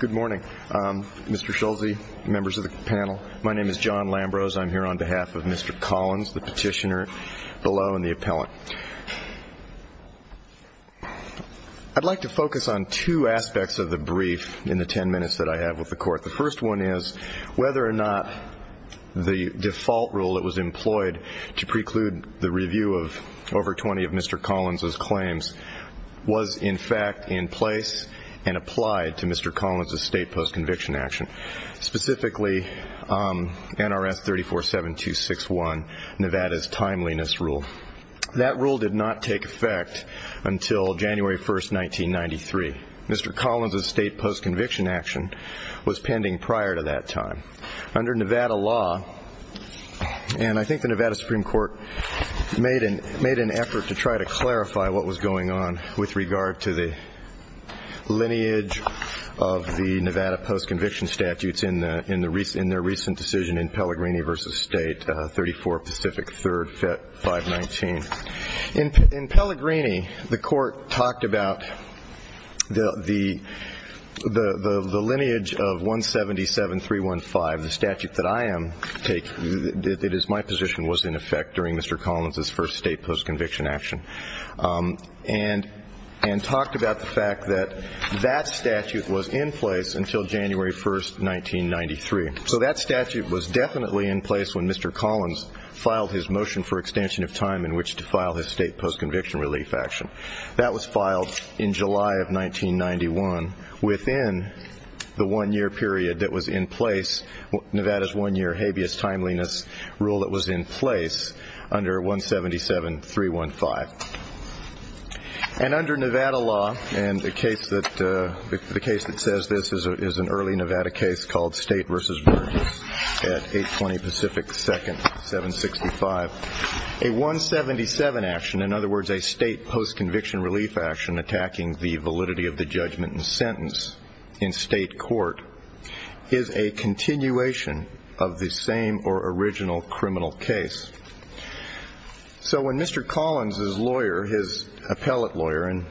Good morning, Mr. Schulze, members of the panel. My name is John Lambrose. I'm here on behalf of Mr. Collins, the petitioner below, and the appellant. I'd like to focus on two aspects of the brief in the ten minutes that I have with the Court. The first one is whether or not the default rule that was employed to preclude the review of over 20 of Mr. Collins' claims was in fact in place and applied to Mr. Collins' state post-conviction action, specifically NRS 347261, Nevada's timeliness rule. That rule did not take effect until January 1st, 1993. Mr. Collins' state post-conviction action was pending prior to that time. Under Nevada law, and I think the Nevada Supreme Court made an effort to try to clarify what was going on with regard to the lineage of the Nevada post-conviction statutes in their recent decision in Pellegrini v. State, 34 Pacific 3rd 519. In Pellegrini, the Court talked about the lineage of 177 315, the statute that I am taking, that is my position, was in effect during Mr. Collins' first state post-conviction action, and talked about the fact that that statute was in place until January 1st, 1993. So that statute was definitely in place when Mr. Collins filed his motion for extension of time in which to file his state post-conviction relief action. That was filed in July of 1991 within the one-year period that was in place, Nevada's one-year habeas timeliness rule that was in place under 177 315. And under Nevada law, and the case that says this is an early Nevada case called State v. Burns at 820 Pacific 2nd 765, a 177 action, in other words a state post-conviction relief action attacking the validity of the judgment and sentence in state court, is a continuation of the same or original criminal case. So when Mr. Collins' lawyer, his appellate lawyer, and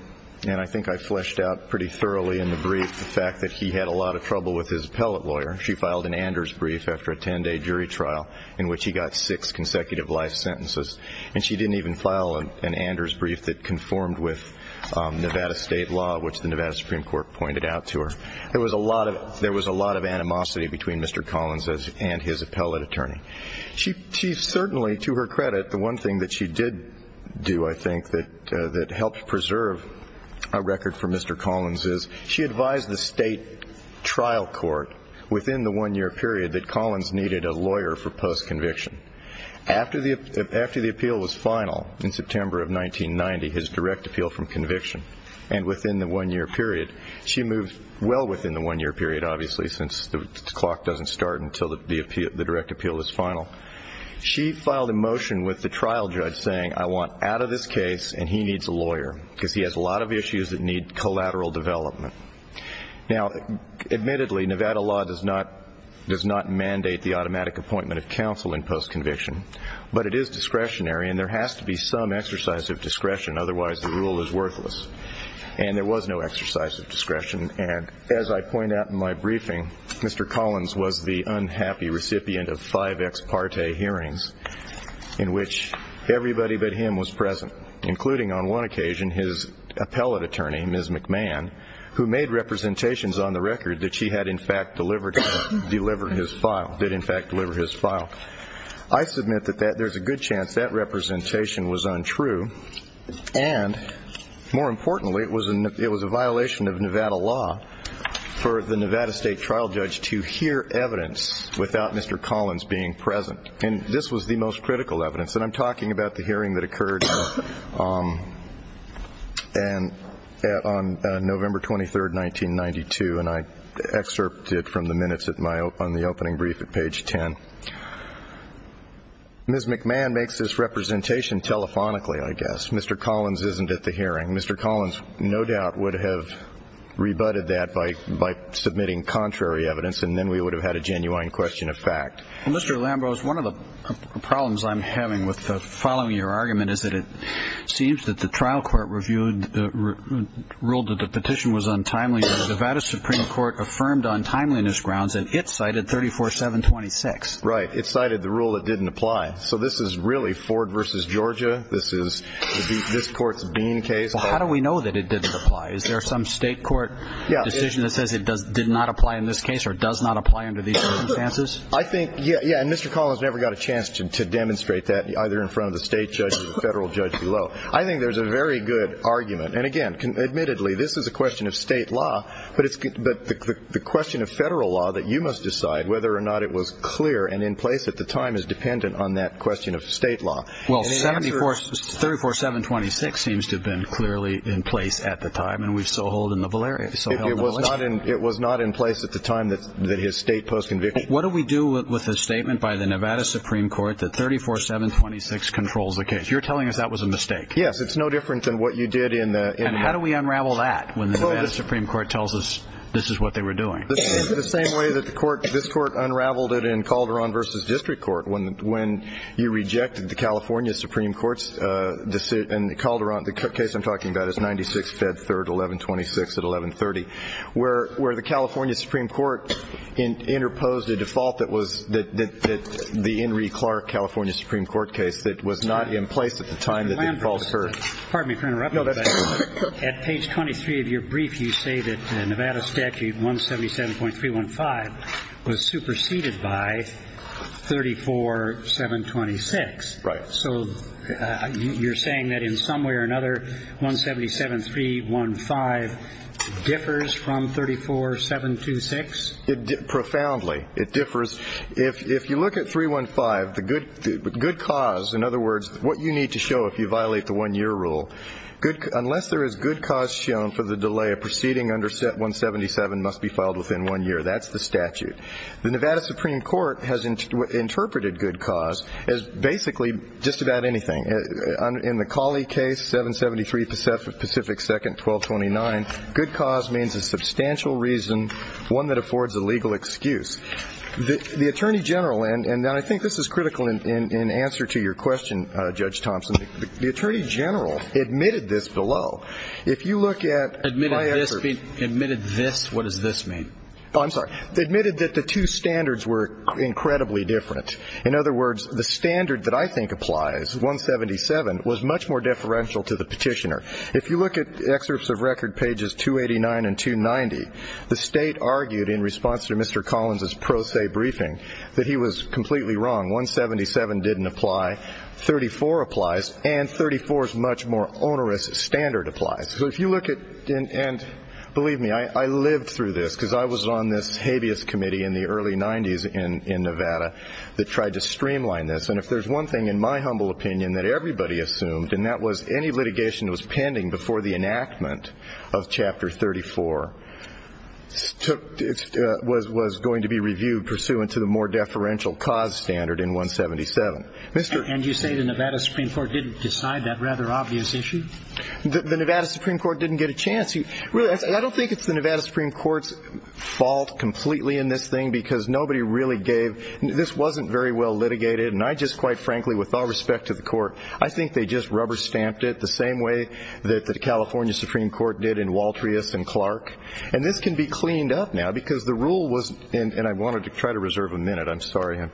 I think I fleshed out pretty thoroughly in the brief the fact that he had a lot of trouble with his appellate lawyer, she filed an Anders brief after a 10-day jury trial in which he got six consecutive life sentences, and she didn't even file an Anders brief that conformed with Nevada state law, which the Nevada Supreme Court pointed out to her. There was a lot of animosity between Mr. Collins and his appellate attorney. She certainly, to her credit, the one thing that she did do, I think, that helped preserve a record for Mr. Collins is she advised the state trial court within the one-year period that Collins needed a lawyer for post-conviction. After the appeal was final in September of 1990, his direct appeal from conviction, and within the one-year period, she moved well within the one-year period obviously since the clock doesn't start until the direct appeal is final, she filed a motion with the trial judge saying I want out of this case and he needs a lawyer because he has a lot of issues that need collateral development. Now, admittedly, Nevada law does not mandate the automatic appointment of counsel in post-conviction, but it is discretionary and there has to be some exercise of discretion otherwise the rule is worthless, and there was no exercise of discretion. And as I point out in my briefing, Mr. Collins was the unhappy recipient of five ex parte hearings in which everybody but him was present, including on one occasion his appellate attorney, Ms. McMahon, who made representations on the record that she had in fact delivered his file, did in fact deliver his file. I submit that there's a good chance that representation was untrue, and more importantly, it was a violation of Nevada law for the Nevada state trial judge to hear evidence without Mr. Collins being present, and this was the most critical evidence. And I'm talking about the hearing that occurred on November 23, 1992, and I excerpted from the minutes on the opening brief at page 10. Ms. McMahon makes this representation telephonically, I guess. Mr. Collins isn't at the hearing. Mr. Collins no doubt would have rebutted that by submitting contrary evidence, and then we would have had a genuine question of fact. Well, Mr. Lambros, one of the problems I'm having with following your argument is that it seems that the trial court ruled that the petition was untimely, but the Nevada Supreme Court affirmed on timeliness grounds that it cited 34-7-26. Right. It cited the rule that didn't apply. So this is really Ford v. Georgia. This is this court's Bean case. How do we know that it didn't apply? Is there some state court decision that says it did not apply in this case or does not apply under these circumstances? I think, yeah, and Mr. Collins never got a chance to demonstrate that either in front of the state judge or the federal judge below. I think there's a very good argument. And, again, admittedly, this is a question of state law, but the question of federal law that you must decide whether or not it was clear and in place at the time is dependent on that question of state law. Well, 34-7-26 seems to have been clearly in place at the time, and we saw a hold in the valerian. It was not in place at the time that his state post conviction. What do we do with a statement by the Nevada Supreme Court that 34-7-26 controls the case? You're telling us that was a mistake. Yes. It's no different than what you did in the ‑‑ And how do we unravel that when the Nevada Supreme Court tells us this is what they were doing? The same way that the court ‑‑ this court unraveled it in Calderon v. District Court. When you rejected the California Supreme Court's decision in Calderon, the case I'm talking about is 96-Fed-3-11-26 at 1130, where the California Supreme Court interposed a default that was the Henry Clark California Supreme Court case that was not in place at the time. Pardon me for interrupting, but at page 23 of your brief, you say that the Nevada statute 177.315 was superseded by 34-7-26. Right. So you're saying that in some way or another, 177.315 differs from 34-7-26? Profoundly, it differs. If you look at 315, the good cause, in other words, what you need to show if you violate the one-year rule, unless there is good cause shown for the delay, a proceeding under 177 must be filed within one year. That's the statute. The Nevada Supreme Court has interpreted good cause as basically just about anything. In the Cawley case, 773 Pacific 2nd, 1229, good cause means a substantial reason, one that affords a legal excuse. The Attorney General, and I think this is critical in answer to your question, Judge Thompson, the Attorney General admitted this below. If you look at my excerpt. Admitted this? What does this mean? I'm sorry. Admitted that the two standards were incredibly different. In other words, the standard that I think applies, 177, was much more differential to the petitioner. If you look at excerpts of record pages 289 and 290, the State argued in response to Mr. Collins' pro se briefing that he was completely wrong. 177 didn't apply. 34 applies. And 34's much more onerous standard applies. So if you look at, and believe me, I lived through this because I was on this habeas committee in the early 90s in Nevada that tried to streamline this. And if there's one thing in my humble opinion that everybody assumed, and that was any litigation that was pending before the enactment of Chapter 34 was going to be reviewed pursuant to the more deferential cause standard in 177. And you say the Nevada Supreme Court didn't decide that rather obvious issue? The Nevada Supreme Court didn't get a chance. I don't think it's the Nevada Supreme Court's fault completely in this thing, because nobody really gave, this wasn't very well litigated. And I just, quite frankly, with all respect to the court, I think they just rubber stamped it the same way that the California Supreme Court did in Waltrius and Clark. And this can be cleaned up now, because the rule was, and I wanted to try to reserve a minute. I'm sorry.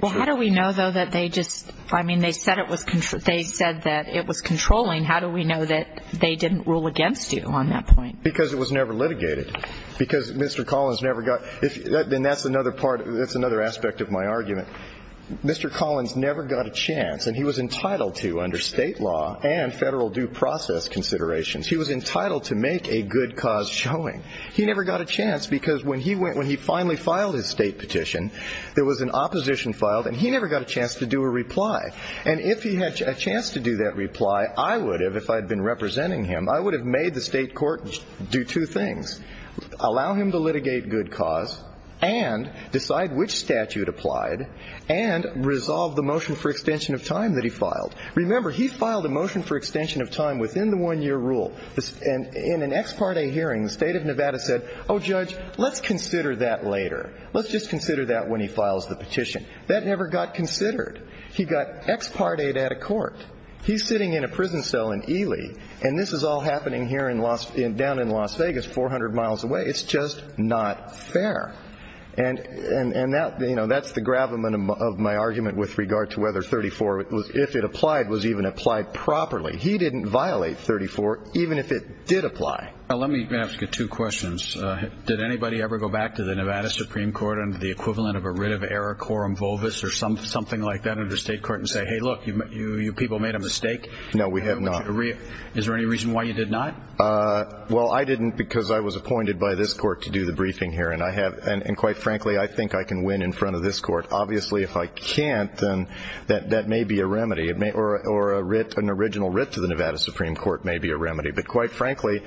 Well, how do we know, though, that they just, I mean, they said it was, they said that it was controlling. How do we know that they didn't rule against you on that point? Because it was never litigated. Because Mr. Collins never got, and that's another part, that's another aspect of my argument. Mr. Collins never got a chance, and he was entitled to under state law and federal due process considerations. He was entitled to make a good cause showing. He never got a chance because when he finally filed his state petition, there was an opposition filed, and he never got a chance to do a reply. And if he had a chance to do that reply, I would have, if I had been representing him, I would have made the state court do two things, allow him to litigate good cause and decide which statute applied and resolve the motion for extension of time that he filed. Remember, he filed a motion for extension of time within the one-year rule. And in an ex parte hearing, the state of Nevada said, oh, judge, let's consider that later. Let's just consider that when he files the petition. That never got considered. He got ex parte'd at a court. He's sitting in a prison cell in Ely, and this is all happening here down in Las Vegas, 400 miles away. It's just not fair. And that's the gravamen of my argument with regard to whether 34, if it applied, was even applied properly. He didn't violate 34, even if it did apply. Let me ask you two questions. Did anybody ever go back to the Nevada Supreme Court under the equivalent of a writ of error, quorum volvus, or something like that under state court and say, hey, look, you people made a mistake? No, we have not. Is there any reason why you did not? Well, I didn't because I was appointed by this court to do the briefing here. And quite frankly, I think I can win in front of this court. Obviously, if I can't, then that may be a remedy. Or an original writ to the Nevada Supreme Court may be a remedy. But quite frankly,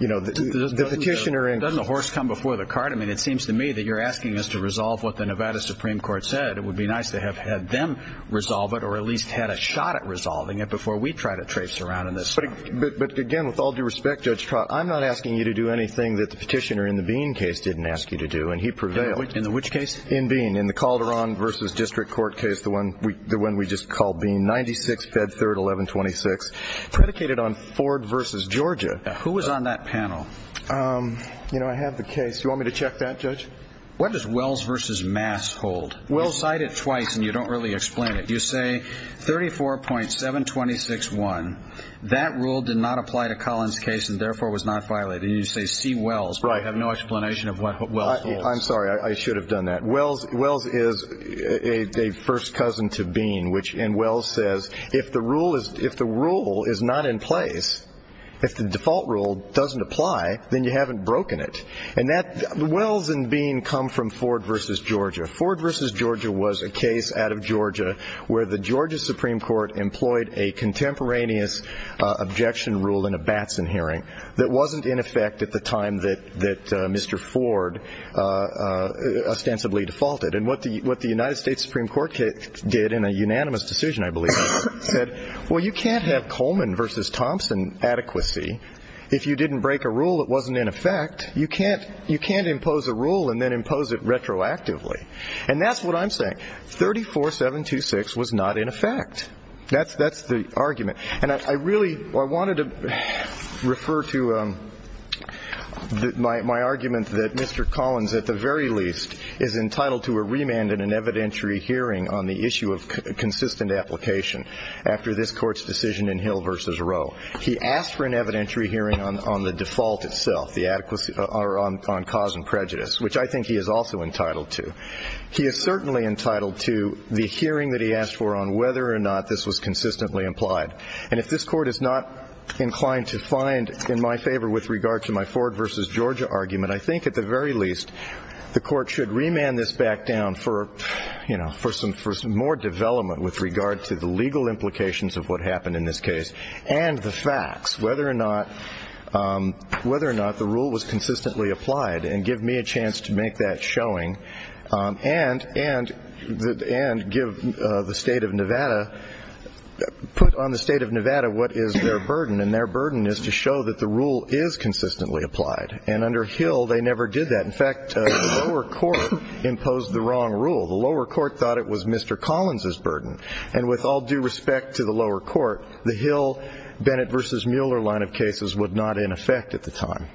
you know, the petitioner and the horse come before the cart. I mean, it seems to me that you're asking us to resolve what the Nevada Supreme Court said. It would be nice to have had them resolve it or at least had a shot at resolving it before we try to trace around in this. But, again, with all due respect, Judge Trott, I'm not asking you to do anything that the petitioner in the Bean case didn't ask you to do, and he prevailed. In which case? In Bean, in the Calderon v. District Court case, the one we just called Bean, 96, Fed 3rd, 1126, predicated on Ford v. Georgia. Who was on that panel? You know, I have the case. You want me to check that, Judge? What does Wells v. Mass hold? You cite it twice, and you don't really explain it. You say 34.726.1. That rule did not apply to Collins' case and, therefore, was not violated. You say C. Wells, but I have no explanation of what Wells holds. I'm sorry. I should have done that. Wells is a first cousin to Bean, and Wells says if the rule is not in place, if the default rule doesn't apply, then you haven't broken it. And Wells and Bean come from Ford v. Georgia. Ford v. Georgia was a case out of Georgia where the Georgia Supreme Court employed a contemporaneous objection rule in a Batson hearing that wasn't in effect at the time that Mr. Ford ostensibly defaulted. And what the United States Supreme Court did in a unanimous decision, I believe, said, well, you can't have Coleman v. Thompson adequacy if you didn't break a rule that wasn't in effect. You can't impose a rule and then impose it retroactively. And that's what I'm saying. 34.726 was not in effect. That's the argument. And I really wanted to refer to my argument that Mr. Collins, at the very least, is entitled to a remand in an evidentiary hearing on the issue of consistent application after this Court's decision in Hill v. Roe. He asked for an evidentiary hearing on the default itself, on cause and prejudice, which I think he is also entitled to. He is certainly entitled to the hearing that he asked for on whether or not this was consistently implied. And if this Court is not inclined to find in my favor with regard to my Ford v. Georgia argument, I think at the very least the Court should remand this back down for some more development with regard to the legal implications of what happened in this case and the facts, whether or not the rule was consistently applied and give me a chance to make that showing and give the State of Nevada, put on the State of Nevada what is their burden. And their burden is to show that the rule is consistently applied. And under Hill, they never did that. In fact, the lower court imposed the wrong rule. The lower court thought it was Mr. Collins' burden. And with all due respect to the lower court, the Hill-Bennett v. Mueller line of cases was not in effect at the time.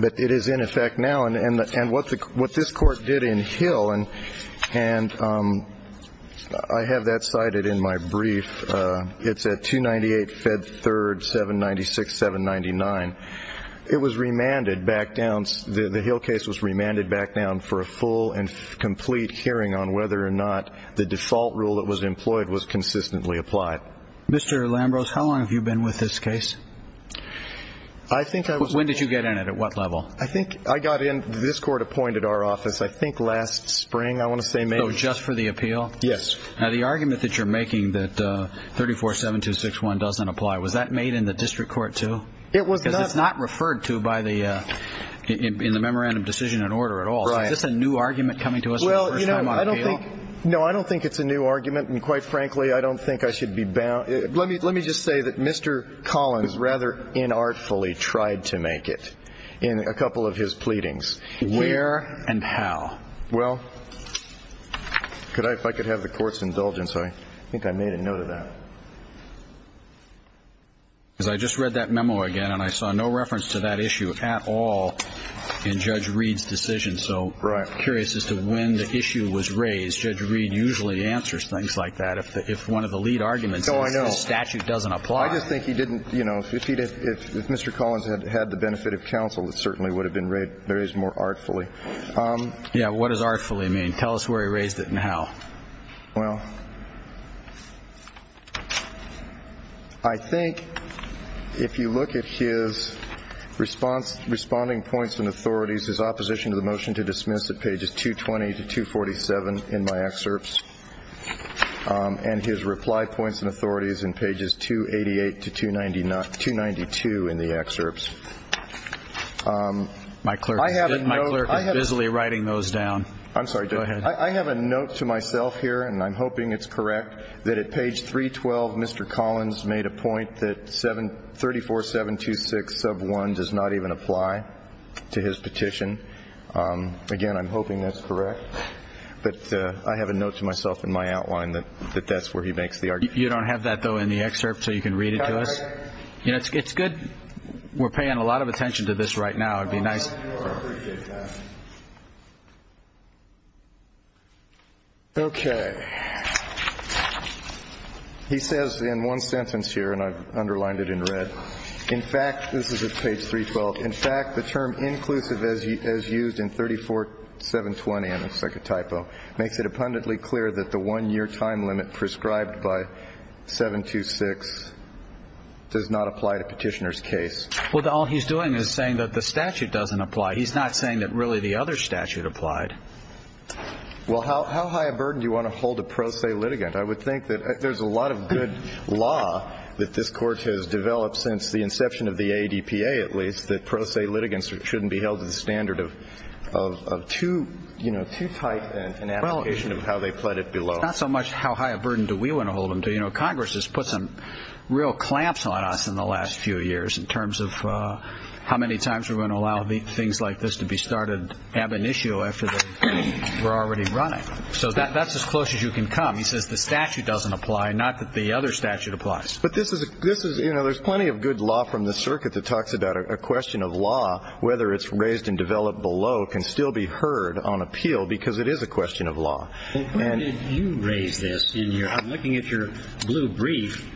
But it is in effect now. And what this Court did in Hill, and I have that cited in my brief. It's at 298 Fed 3rd, 796, 799. It was remanded back down, the Hill case was remanded back down for a full and complete hearing on whether or not the default rule that was employed was consistently applied. Mr. Lambros, how long have you been with this case? When did you get in it? At what level? I think I got in, this Court appointed our office I think last spring, I want to say maybe. Oh, just for the appeal? Yes. Now the argument that you're making that 34-7261 doesn't apply, was that made in the district court too? It was not. Because it's not referred to by the, in the memorandum of decision and order at all. Right. Is this a new argument coming to us for the first time on appeal? Well, you know, I don't think, no, I don't think it's a new argument. And quite frankly, I don't think I should be bound. Let me just say that Mr. Collins rather inartfully tried to make it in a couple of his pleadings. Where and how? Well, could I, if I could have the Court's indulgence, I think I made a note of that. Because I just read that memo again and I saw no reference to that issue at all in Judge Reed's decision. So I'm curious as to when the issue was raised. Judge Reed usually answers things like that. If one of the lead arguments is the statute doesn't apply. I just think he didn't, you know, if he did, if Mr. Collins had had the benefit of counsel, it certainly would have been raised more artfully. Yeah, what does artfully mean? Tell us where he raised it and how. Well, I think if you look at his response, responding points and authorities, his opposition to the motion to dismiss at pages 220 to 247 in my excerpts, and his reply points and authorities in pages 288 to 292 in the excerpts. My clerk is busily writing those down. I'm sorry. Go ahead. I have a note to myself here, and I'm hoping it's correct, that at page 312 Mr. Collins made a point that 34726 sub 1 does not even apply to his petition. Again, I'm hoping that's correct. But I have a note to myself in my outline that that's where he makes the argument. You don't have that, though, in the excerpt so you can read it to us? That's right. It's good. We're paying a lot of attention to this right now. It would be nice. Okay. He says in one sentence here, and I've underlined it in red, in fact, this is at page 312, in fact, the term inclusive as used in 34720, and it's like a typo, makes it abundantly clear that the one-year time limit prescribed by 726 does not apply to petitioner's case. Well, all he's doing is saying that the statute doesn't apply. He's not saying that really the other statute applied. Well, how high a burden do you want to hold a pro se litigant? I would think that there's a lot of good law that this court has developed since the inception of the ADPA, at least, that pro se litigants shouldn't be held to the standard of too tight an application of how they pled it below. Well, it's not so much how high a burden do we want to hold them to. You know, Congress has put some real clamps on us in the last few years in terms of how many times we're going to allow things like this to be started ab initio after we're already running. So that's as close as you can come. He says the statute doesn't apply, not that the other statute applies. But this is, you know, there's plenty of good law from the circuit that talks about a question of law, whether it's raised and developed below can still be heard on appeal because it is a question of law. Well, where did you raise this? I'm looking at your blue brief,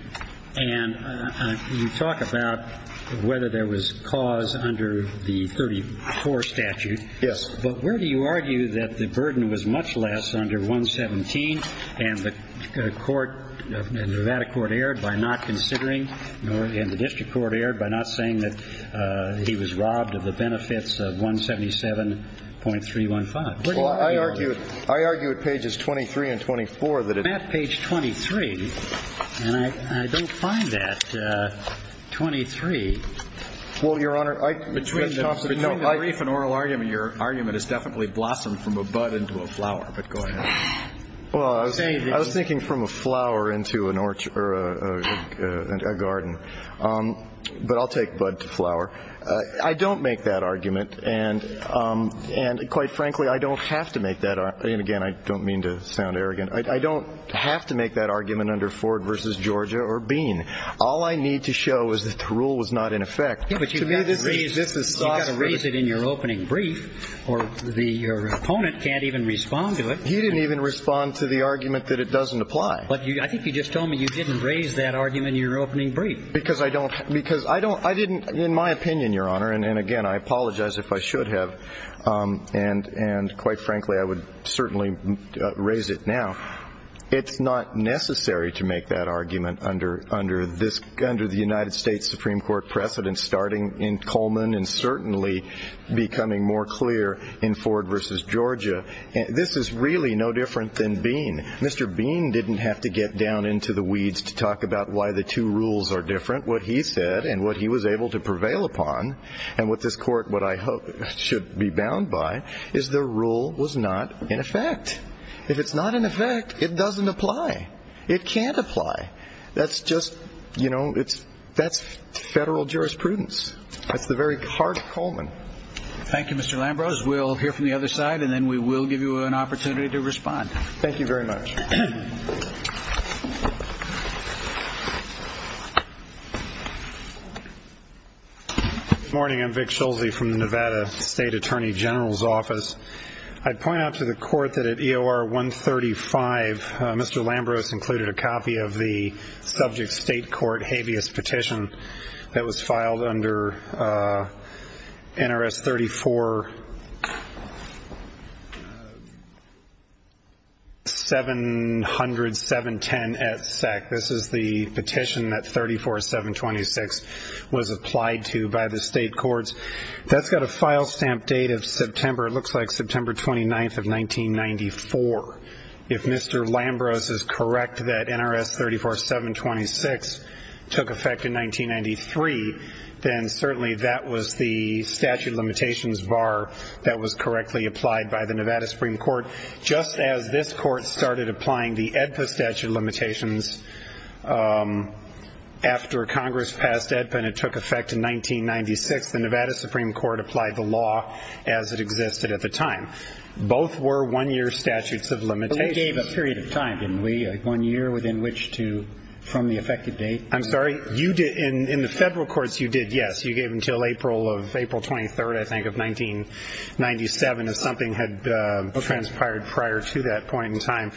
and you talk about whether there was cause under the 34 statute. Yes. But where do you argue that the burden was much less under 117 and the court, the Nevada court erred by not considering and the district court erred by not saying that he was robbed of the benefits of 177.315? Well, I argue it. I argue at pages 23 and 24 that it page 23. And I don't find that 23. Well, Your Honor, between the brief and oral argument, your argument is definitely blossomed from a bud into a flower. But go ahead. Well, I was thinking from a flower into an orchard or a garden. But I'll take bud to flower. I don't make that argument. And quite frankly, I don't have to make that. And, again, I don't mean to sound arrogant. I don't have to make that argument under Ford v. Georgia or Bean. All I need to show is that the rule was not in effect. Yeah, but you've got to raise it in your opening brief or your opponent can't even respond to it. He didn't even respond to the argument that it doesn't apply. I think you just told me you didn't raise that argument in your opening brief. Because I don't. Because I didn't, in my opinion, Your Honor. And, again, I apologize if I should have. And, quite frankly, I would certainly raise it now. It's not necessary to make that argument under the United States Supreme Court precedent starting in Coleman and certainly becoming more clear in Ford v. Georgia. This is really no different than Bean. Mr. Bean didn't have to get down into the weeds to talk about why the two rules are different. But what he said and what he was able to prevail upon and what this court, what I hope, should be bound by, is the rule was not in effect. If it's not in effect, it doesn't apply. It can't apply. That's just, you know, that's federal jurisprudence. That's the very heart of Coleman. Thank you, Mr. Lambros. We'll hear from the other side, and then we will give you an opportunity to respond. Thank you very much. Good morning. I'm Vic Schulze from the Nevada State Attorney General's Office. I'd point out to the Court that at EOR 135, Mr. Lambros included a copy of the subject state court habeas petition that was filed under NRS 34-700-710 at SEC. This is the petition that 34-726 was applied to by the state courts. That's got a file stamp date of September. It looks like September 29th of 1994. If Mr. Lambros is correct that NRS 34-726 took effect in 1993, then certainly that was the statute of limitations bar that was correctly applied by the Nevada Supreme Court. Just as this court started applying the AEDPA statute of limitations after Congress passed AEDPA and it took effect in 1996, the Nevada Supreme Court applied the law as it existed at the time. Both were one-year statutes of limitations. But we gave a period of time, didn't we, like one year within which to, from the effective date? I'm sorry? In the federal courts, you did, yes. You gave until April 23rd, I think, of 1997 if something had transpired prior to that point in time.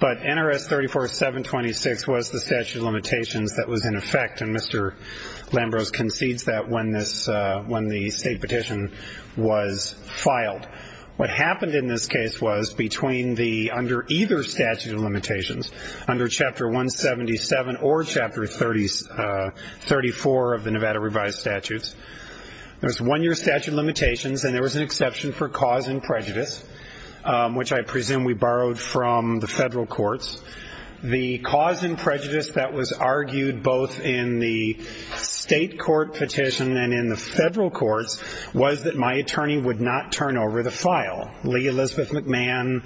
But NRS 34-726 was the statute of limitations that was in effect, and Mr. Lambros concedes that when the state petition was filed. What happened in this case was between the, under either statute of limitations, under Chapter 177 or Chapter 34 of the Nevada revised statutes, there was one-year statute of limitations and there was an exception for cause and prejudice, which I presume we borrowed from the federal courts. The cause and prejudice that was argued both in the state court petition and in the federal courts was that my attorney would not turn over the file. Lee Elizabeth McMahon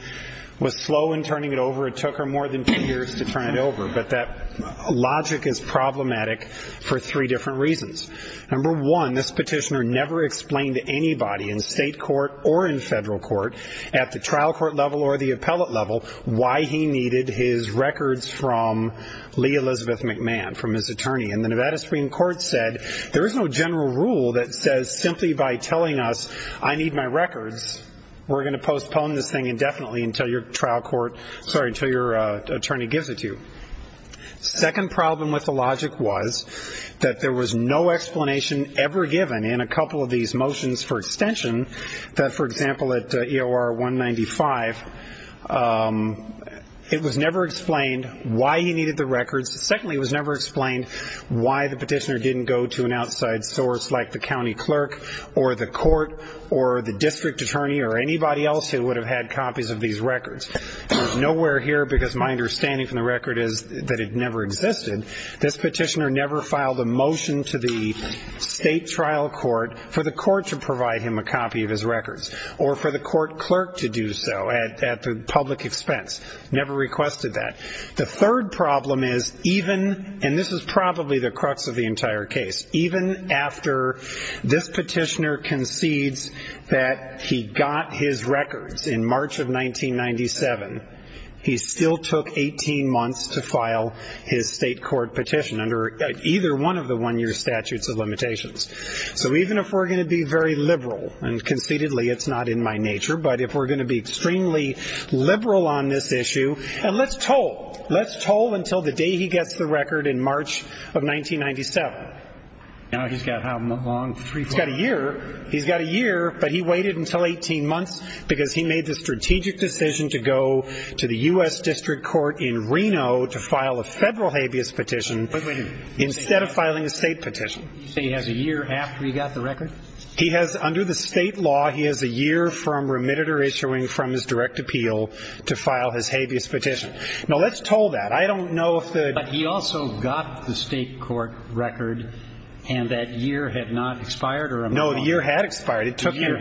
was slow in turning it over. It took her more than two years to turn it over. But that logic is problematic for three different reasons. Number one, this petitioner never explained to anybody in state court or in federal court, at the trial court level or the appellate level, why he needed his records from Lee Elizabeth McMahon, from his attorney. And the Nevada Supreme Court said there is no general rule that says simply by telling us, I need my records, we're going to postpone this thing indefinitely until your trial court, sorry, until your attorney gives it to you. Second problem with the logic was that there was no explanation ever given in a couple of these motions for extension that, for example, at EOR 195, it was never explained why he needed the records. Secondly, it was never explained why the petitioner didn't go to an outside source like the county clerk or the court or the district attorney or anybody else who would have had copies of these records. Nowhere here, because my understanding from the record is that it never existed, this petitioner never filed a motion to the state trial court for the court to provide him a copy of his records or for the court clerk to do so at the public expense. Never requested that. The third problem is even, and this is probably the crux of the entire case, even after this petitioner concedes that he got his records in March of 1997, he still took 18 months to file his state court petition under either one of the one-year statutes of limitations. So even if we're going to be very liberal, and concededly it's not in my nature, but if we're going to be extremely liberal on this issue, and let's toll. Let's toll until the day he gets the record in March of 1997. Now he's got how long? He's got a year. He's got a year, but he waited until 18 months because he made the strategic decision to go to the U.S. District Court in Reno to file a federal habeas petition instead of filing a state petition. So he has a year after he got the record? He has, under the state law, he has a year from remitted or issuing from his direct appeal to file his habeas petition. Now, let's toll that. I don't know if the ---- But he also got the state court record, and that year had not expired? No, the year had expired. It took him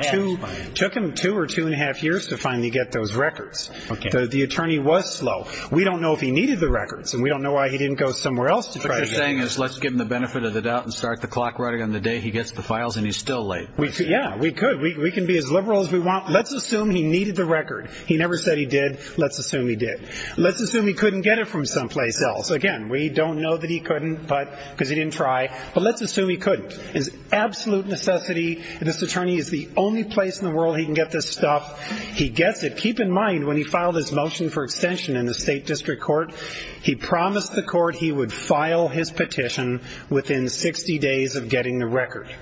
two or two and a half years to finally get those records. Okay. The attorney was slow. We don't know if he needed the records, and we don't know why he didn't go somewhere else to try to get them. What you're saying is let's give him the benefit of the doubt and start the clock right on the day he gets the files, and he's still late. Yeah, we could. We can be as liberal as we want. Let's assume he needed the record. He never said he did. Let's assume he did. Let's assume he couldn't get it from someplace else. Again, we don't know that he couldn't because he didn't try, but let's assume he couldn't. It's absolute necessity. This attorney is the only place in the world he can get this stuff. He gets it. Now, keep in mind, when he filed his motion for extension in the state district court, he promised the court he would file his petition within 60 days of getting the record.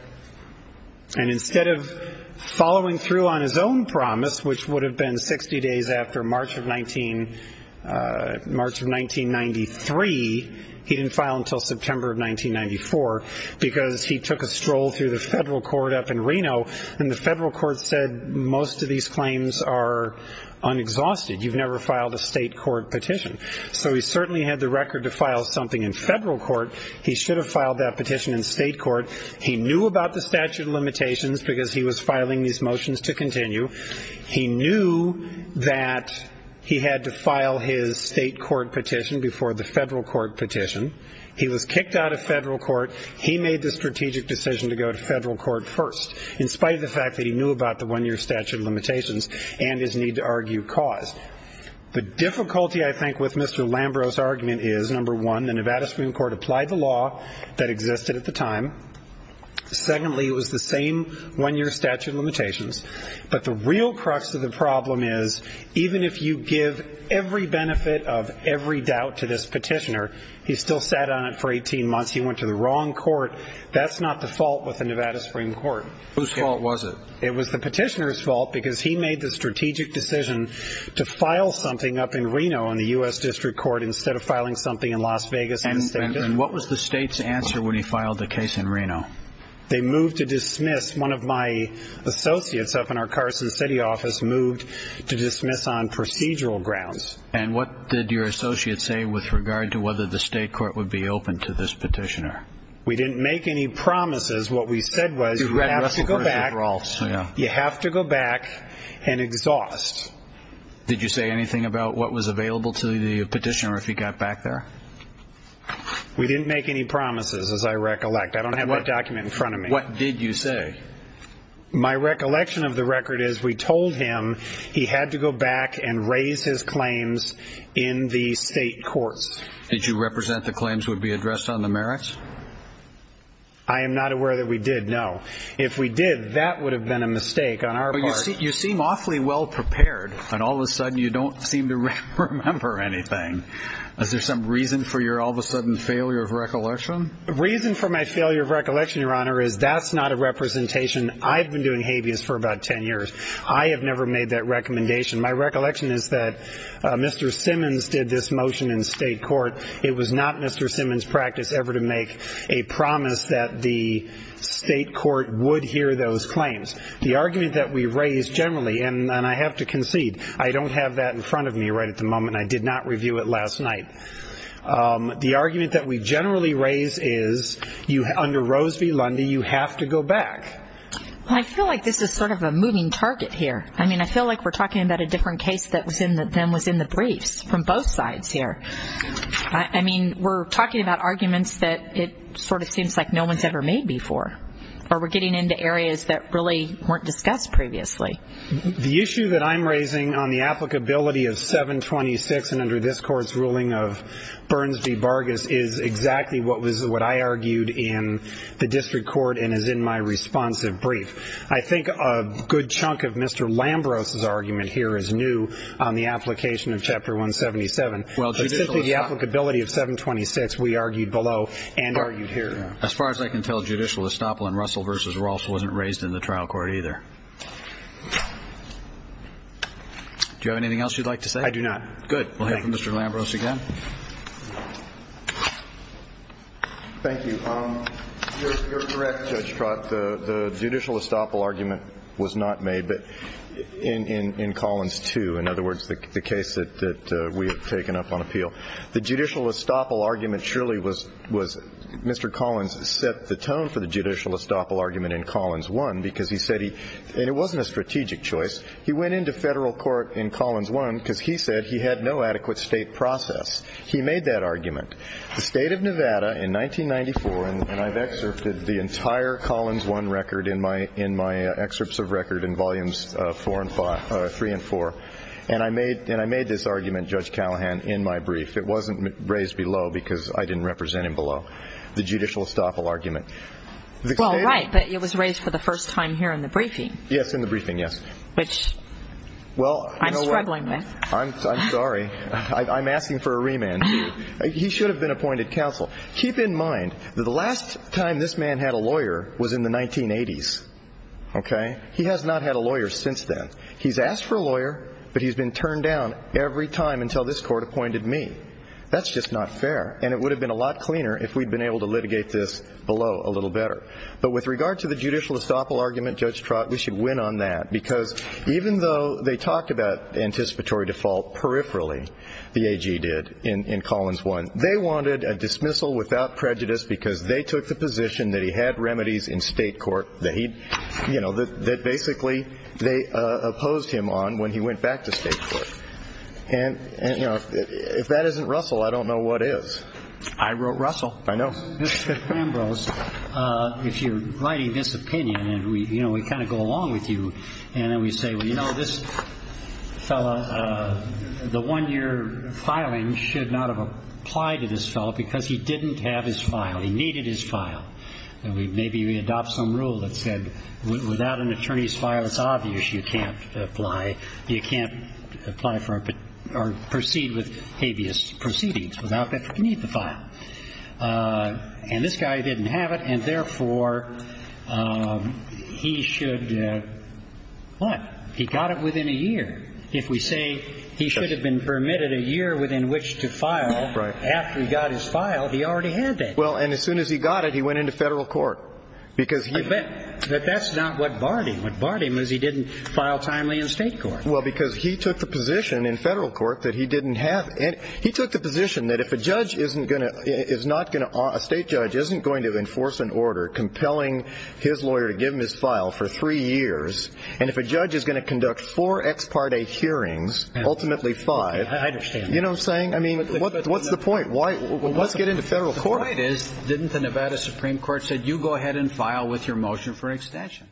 And instead of following through on his own promise, which would have been 60 days after March of 1993, he didn't file until September of 1994 because he took a stroll through the federal court up in Reno, and the federal court said most of these claims are unexhausted. You've never filed a state court petition. So he certainly had the record to file something in federal court. He should have filed that petition in state court. He knew about the statute of limitations because he was filing these motions to continue. He knew that he had to file his state court petition before the federal court petition. He was kicked out of federal court. He made the strategic decision to go to federal court first, in spite of the fact that he knew about the one-year statute of limitations and his need to argue cause. The difficulty, I think, with Mr. Lambros' argument is, number one, the Nevada Supreme Court applied the law that existed at the time. Secondly, it was the same one-year statute of limitations. But the real crux of the problem is, even if you give every benefit of every doubt to this petitioner, he still sat on it for 18 months. He went to the wrong court. That's not the fault with the Nevada Supreme Court. Whose fault was it? It was the petitioner's fault because he made the strategic decision to file something up in Reno in the U.S. District Court instead of filing something in Las Vegas in the state district court. And what was the state's answer when he filed the case in Reno? They moved to dismiss. One of my associates up in our Carson City office moved to dismiss on procedural grounds. And what did your associate say with regard to whether the state court would be open to this petitioner? We didn't make any promises. What we said was you have to go back and exhaust. Did you say anything about what was available to the petitioner if he got back there? We didn't make any promises, as I recollect. I don't have that document in front of me. What did you say? My recollection of the record is we told him he had to go back and raise his claims in the state courts. Did you represent the claims would be addressed on the merits? I am not aware that we did, no. If we did, that would have been a mistake on our part. You seem awfully well prepared, and all of a sudden you don't seem to remember anything. Is there some reason for your all of a sudden failure of recollection? The reason for my failure of recollection, Your Honor, is that's not a representation. I've been doing habeas for about ten years. I have never made that recommendation. My recollection is that Mr. Simmons did this motion in state court. It was not Mr. Simmons' practice ever to make a promise that the state court would hear those claims. The argument that we raised generally, and I have to concede, I don't have that in front of me right at the moment. I did not review it last night. The argument that we generally raise is under Rose v. Lundy, you have to go back. I feel like this is sort of a moving target here. I mean, I feel like we're talking about a different case than was in the briefs from both sides here. I mean, we're talking about arguments that it sort of seems like no one's ever made before, or we're getting into areas that really weren't discussed previously. The issue that I'm raising on the applicability of 726 and under this Court's ruling of Burns v. Vargas is exactly what I argued in the district court and is in my responsive brief. I think a good chunk of Mr. Lambros' argument here is new on the application of Chapter 177. Well, judicial estoppel. The applicability of 726 we argued below and argued here. As far as I can tell, judicial estoppel in Russell v. Ross wasn't raised in the trial court either. Do you have anything else you'd like to say? I do not. Good. We'll hear from Mr. Lambros again. Thank you. You're correct, Judge Trott. The judicial estoppel argument was not made in Collins 2, in other words, the case that we have taken up on appeal. The judicial estoppel argument surely was Mr. Collins set the tone for the judicial estoppel argument in Collins 1 because he said he – and it wasn't a strategic choice. He went into federal court in Collins 1 because he said he had no adequate state process. He made that argument. The State of Nevada in 1994, and I've excerpted the entire Collins 1 record in my – in my excerpts of record in volumes 4 and 5 – 3 and 4. And I made – and I made this argument, Judge Callahan, in my brief. It wasn't raised below because I didn't represent him below. The judicial estoppel argument. Well, right, but it was raised for the first time here in the briefing. Yes, in the briefing, yes. Which I'm struggling with. I'm sorry. I'm asking for a remand, too. He should have been appointed counsel. Keep in mind that the last time this man had a lawyer was in the 1980s, okay? He has not had a lawyer since then. He's asked for a lawyer, but he's been turned down every time until this court appointed me. That's just not fair. And it would have been a lot cleaner if we'd been able to litigate this below a little better. But with regard to the judicial estoppel argument, Judge Trott, we should win on that because even though they talked about anticipatory default peripherally, the AG did, in Collins 1, they wanted a dismissal without prejudice because they took the position that he had remedies in state court, you know, that basically they opposed him on when he went back to state court. And, you know, if that isn't Russell, I don't know what is. I wrote Russell. I know. Mr. Ambrose, if you're writing this opinion and, you know, we kind of go along with you and then we say, well, you know, this fellow, the one year filing should not have applied to this fellow because he didn't have his file. He needed his file. And maybe we adopt some rule that said without an attorney's file, it's obvious you can't apply, you can't apply for or proceed with habeas proceedings without that you need the file. And this guy didn't have it, and therefore, he should what? He got it within a year. If we say he should have been permitted a year within which to file after he got his file, he already had that. Well, and as soon as he got it, he went into federal court. But that's not what barred him. What barred him was he didn't file timely in state court. Well, because he took the position in federal court that he didn't have it. He took the position that if a judge isn't going to – a state judge isn't going to enforce an order compelling his lawyer to give him his file for three years, and if a judge is going to conduct four ex parte hearings, ultimately five. I understand. You know what I'm saying? I mean, what's the point? Let's get into federal court. The point is, didn't the Nevada Supreme Court say you go ahead and file with your motion for extension?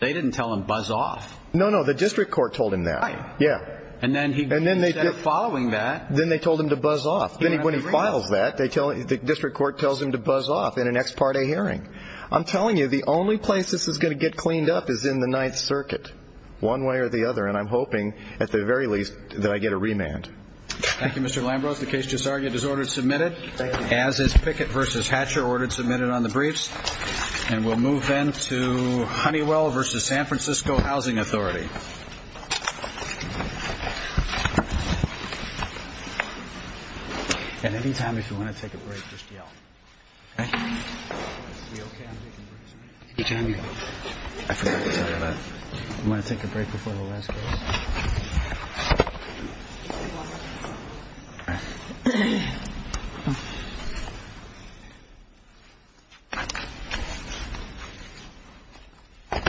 They didn't tell him buzz off. No, no. The district court told him that. Right. Yeah. And then instead of following that – Then they told him to buzz off. Then when he files that, the district court tells him to buzz off in an ex parte hearing. I'm telling you, the only place this is going to get cleaned up is in the Ninth Circuit, one way or the other, and I'm hoping at the very least that I get a remand. Thank you, Mr. Lambros. The case just argued is order submitted. Thank you. As is Pickett v. Hatcher, order submitted on the briefs, and we'll move then to Honeywell v. San Francisco Housing Authority. At any time, if you want to take a break, just yell. Okay? We okay on taking a break? I forgot to tell you that. You want to take a break before the last case? Thank you.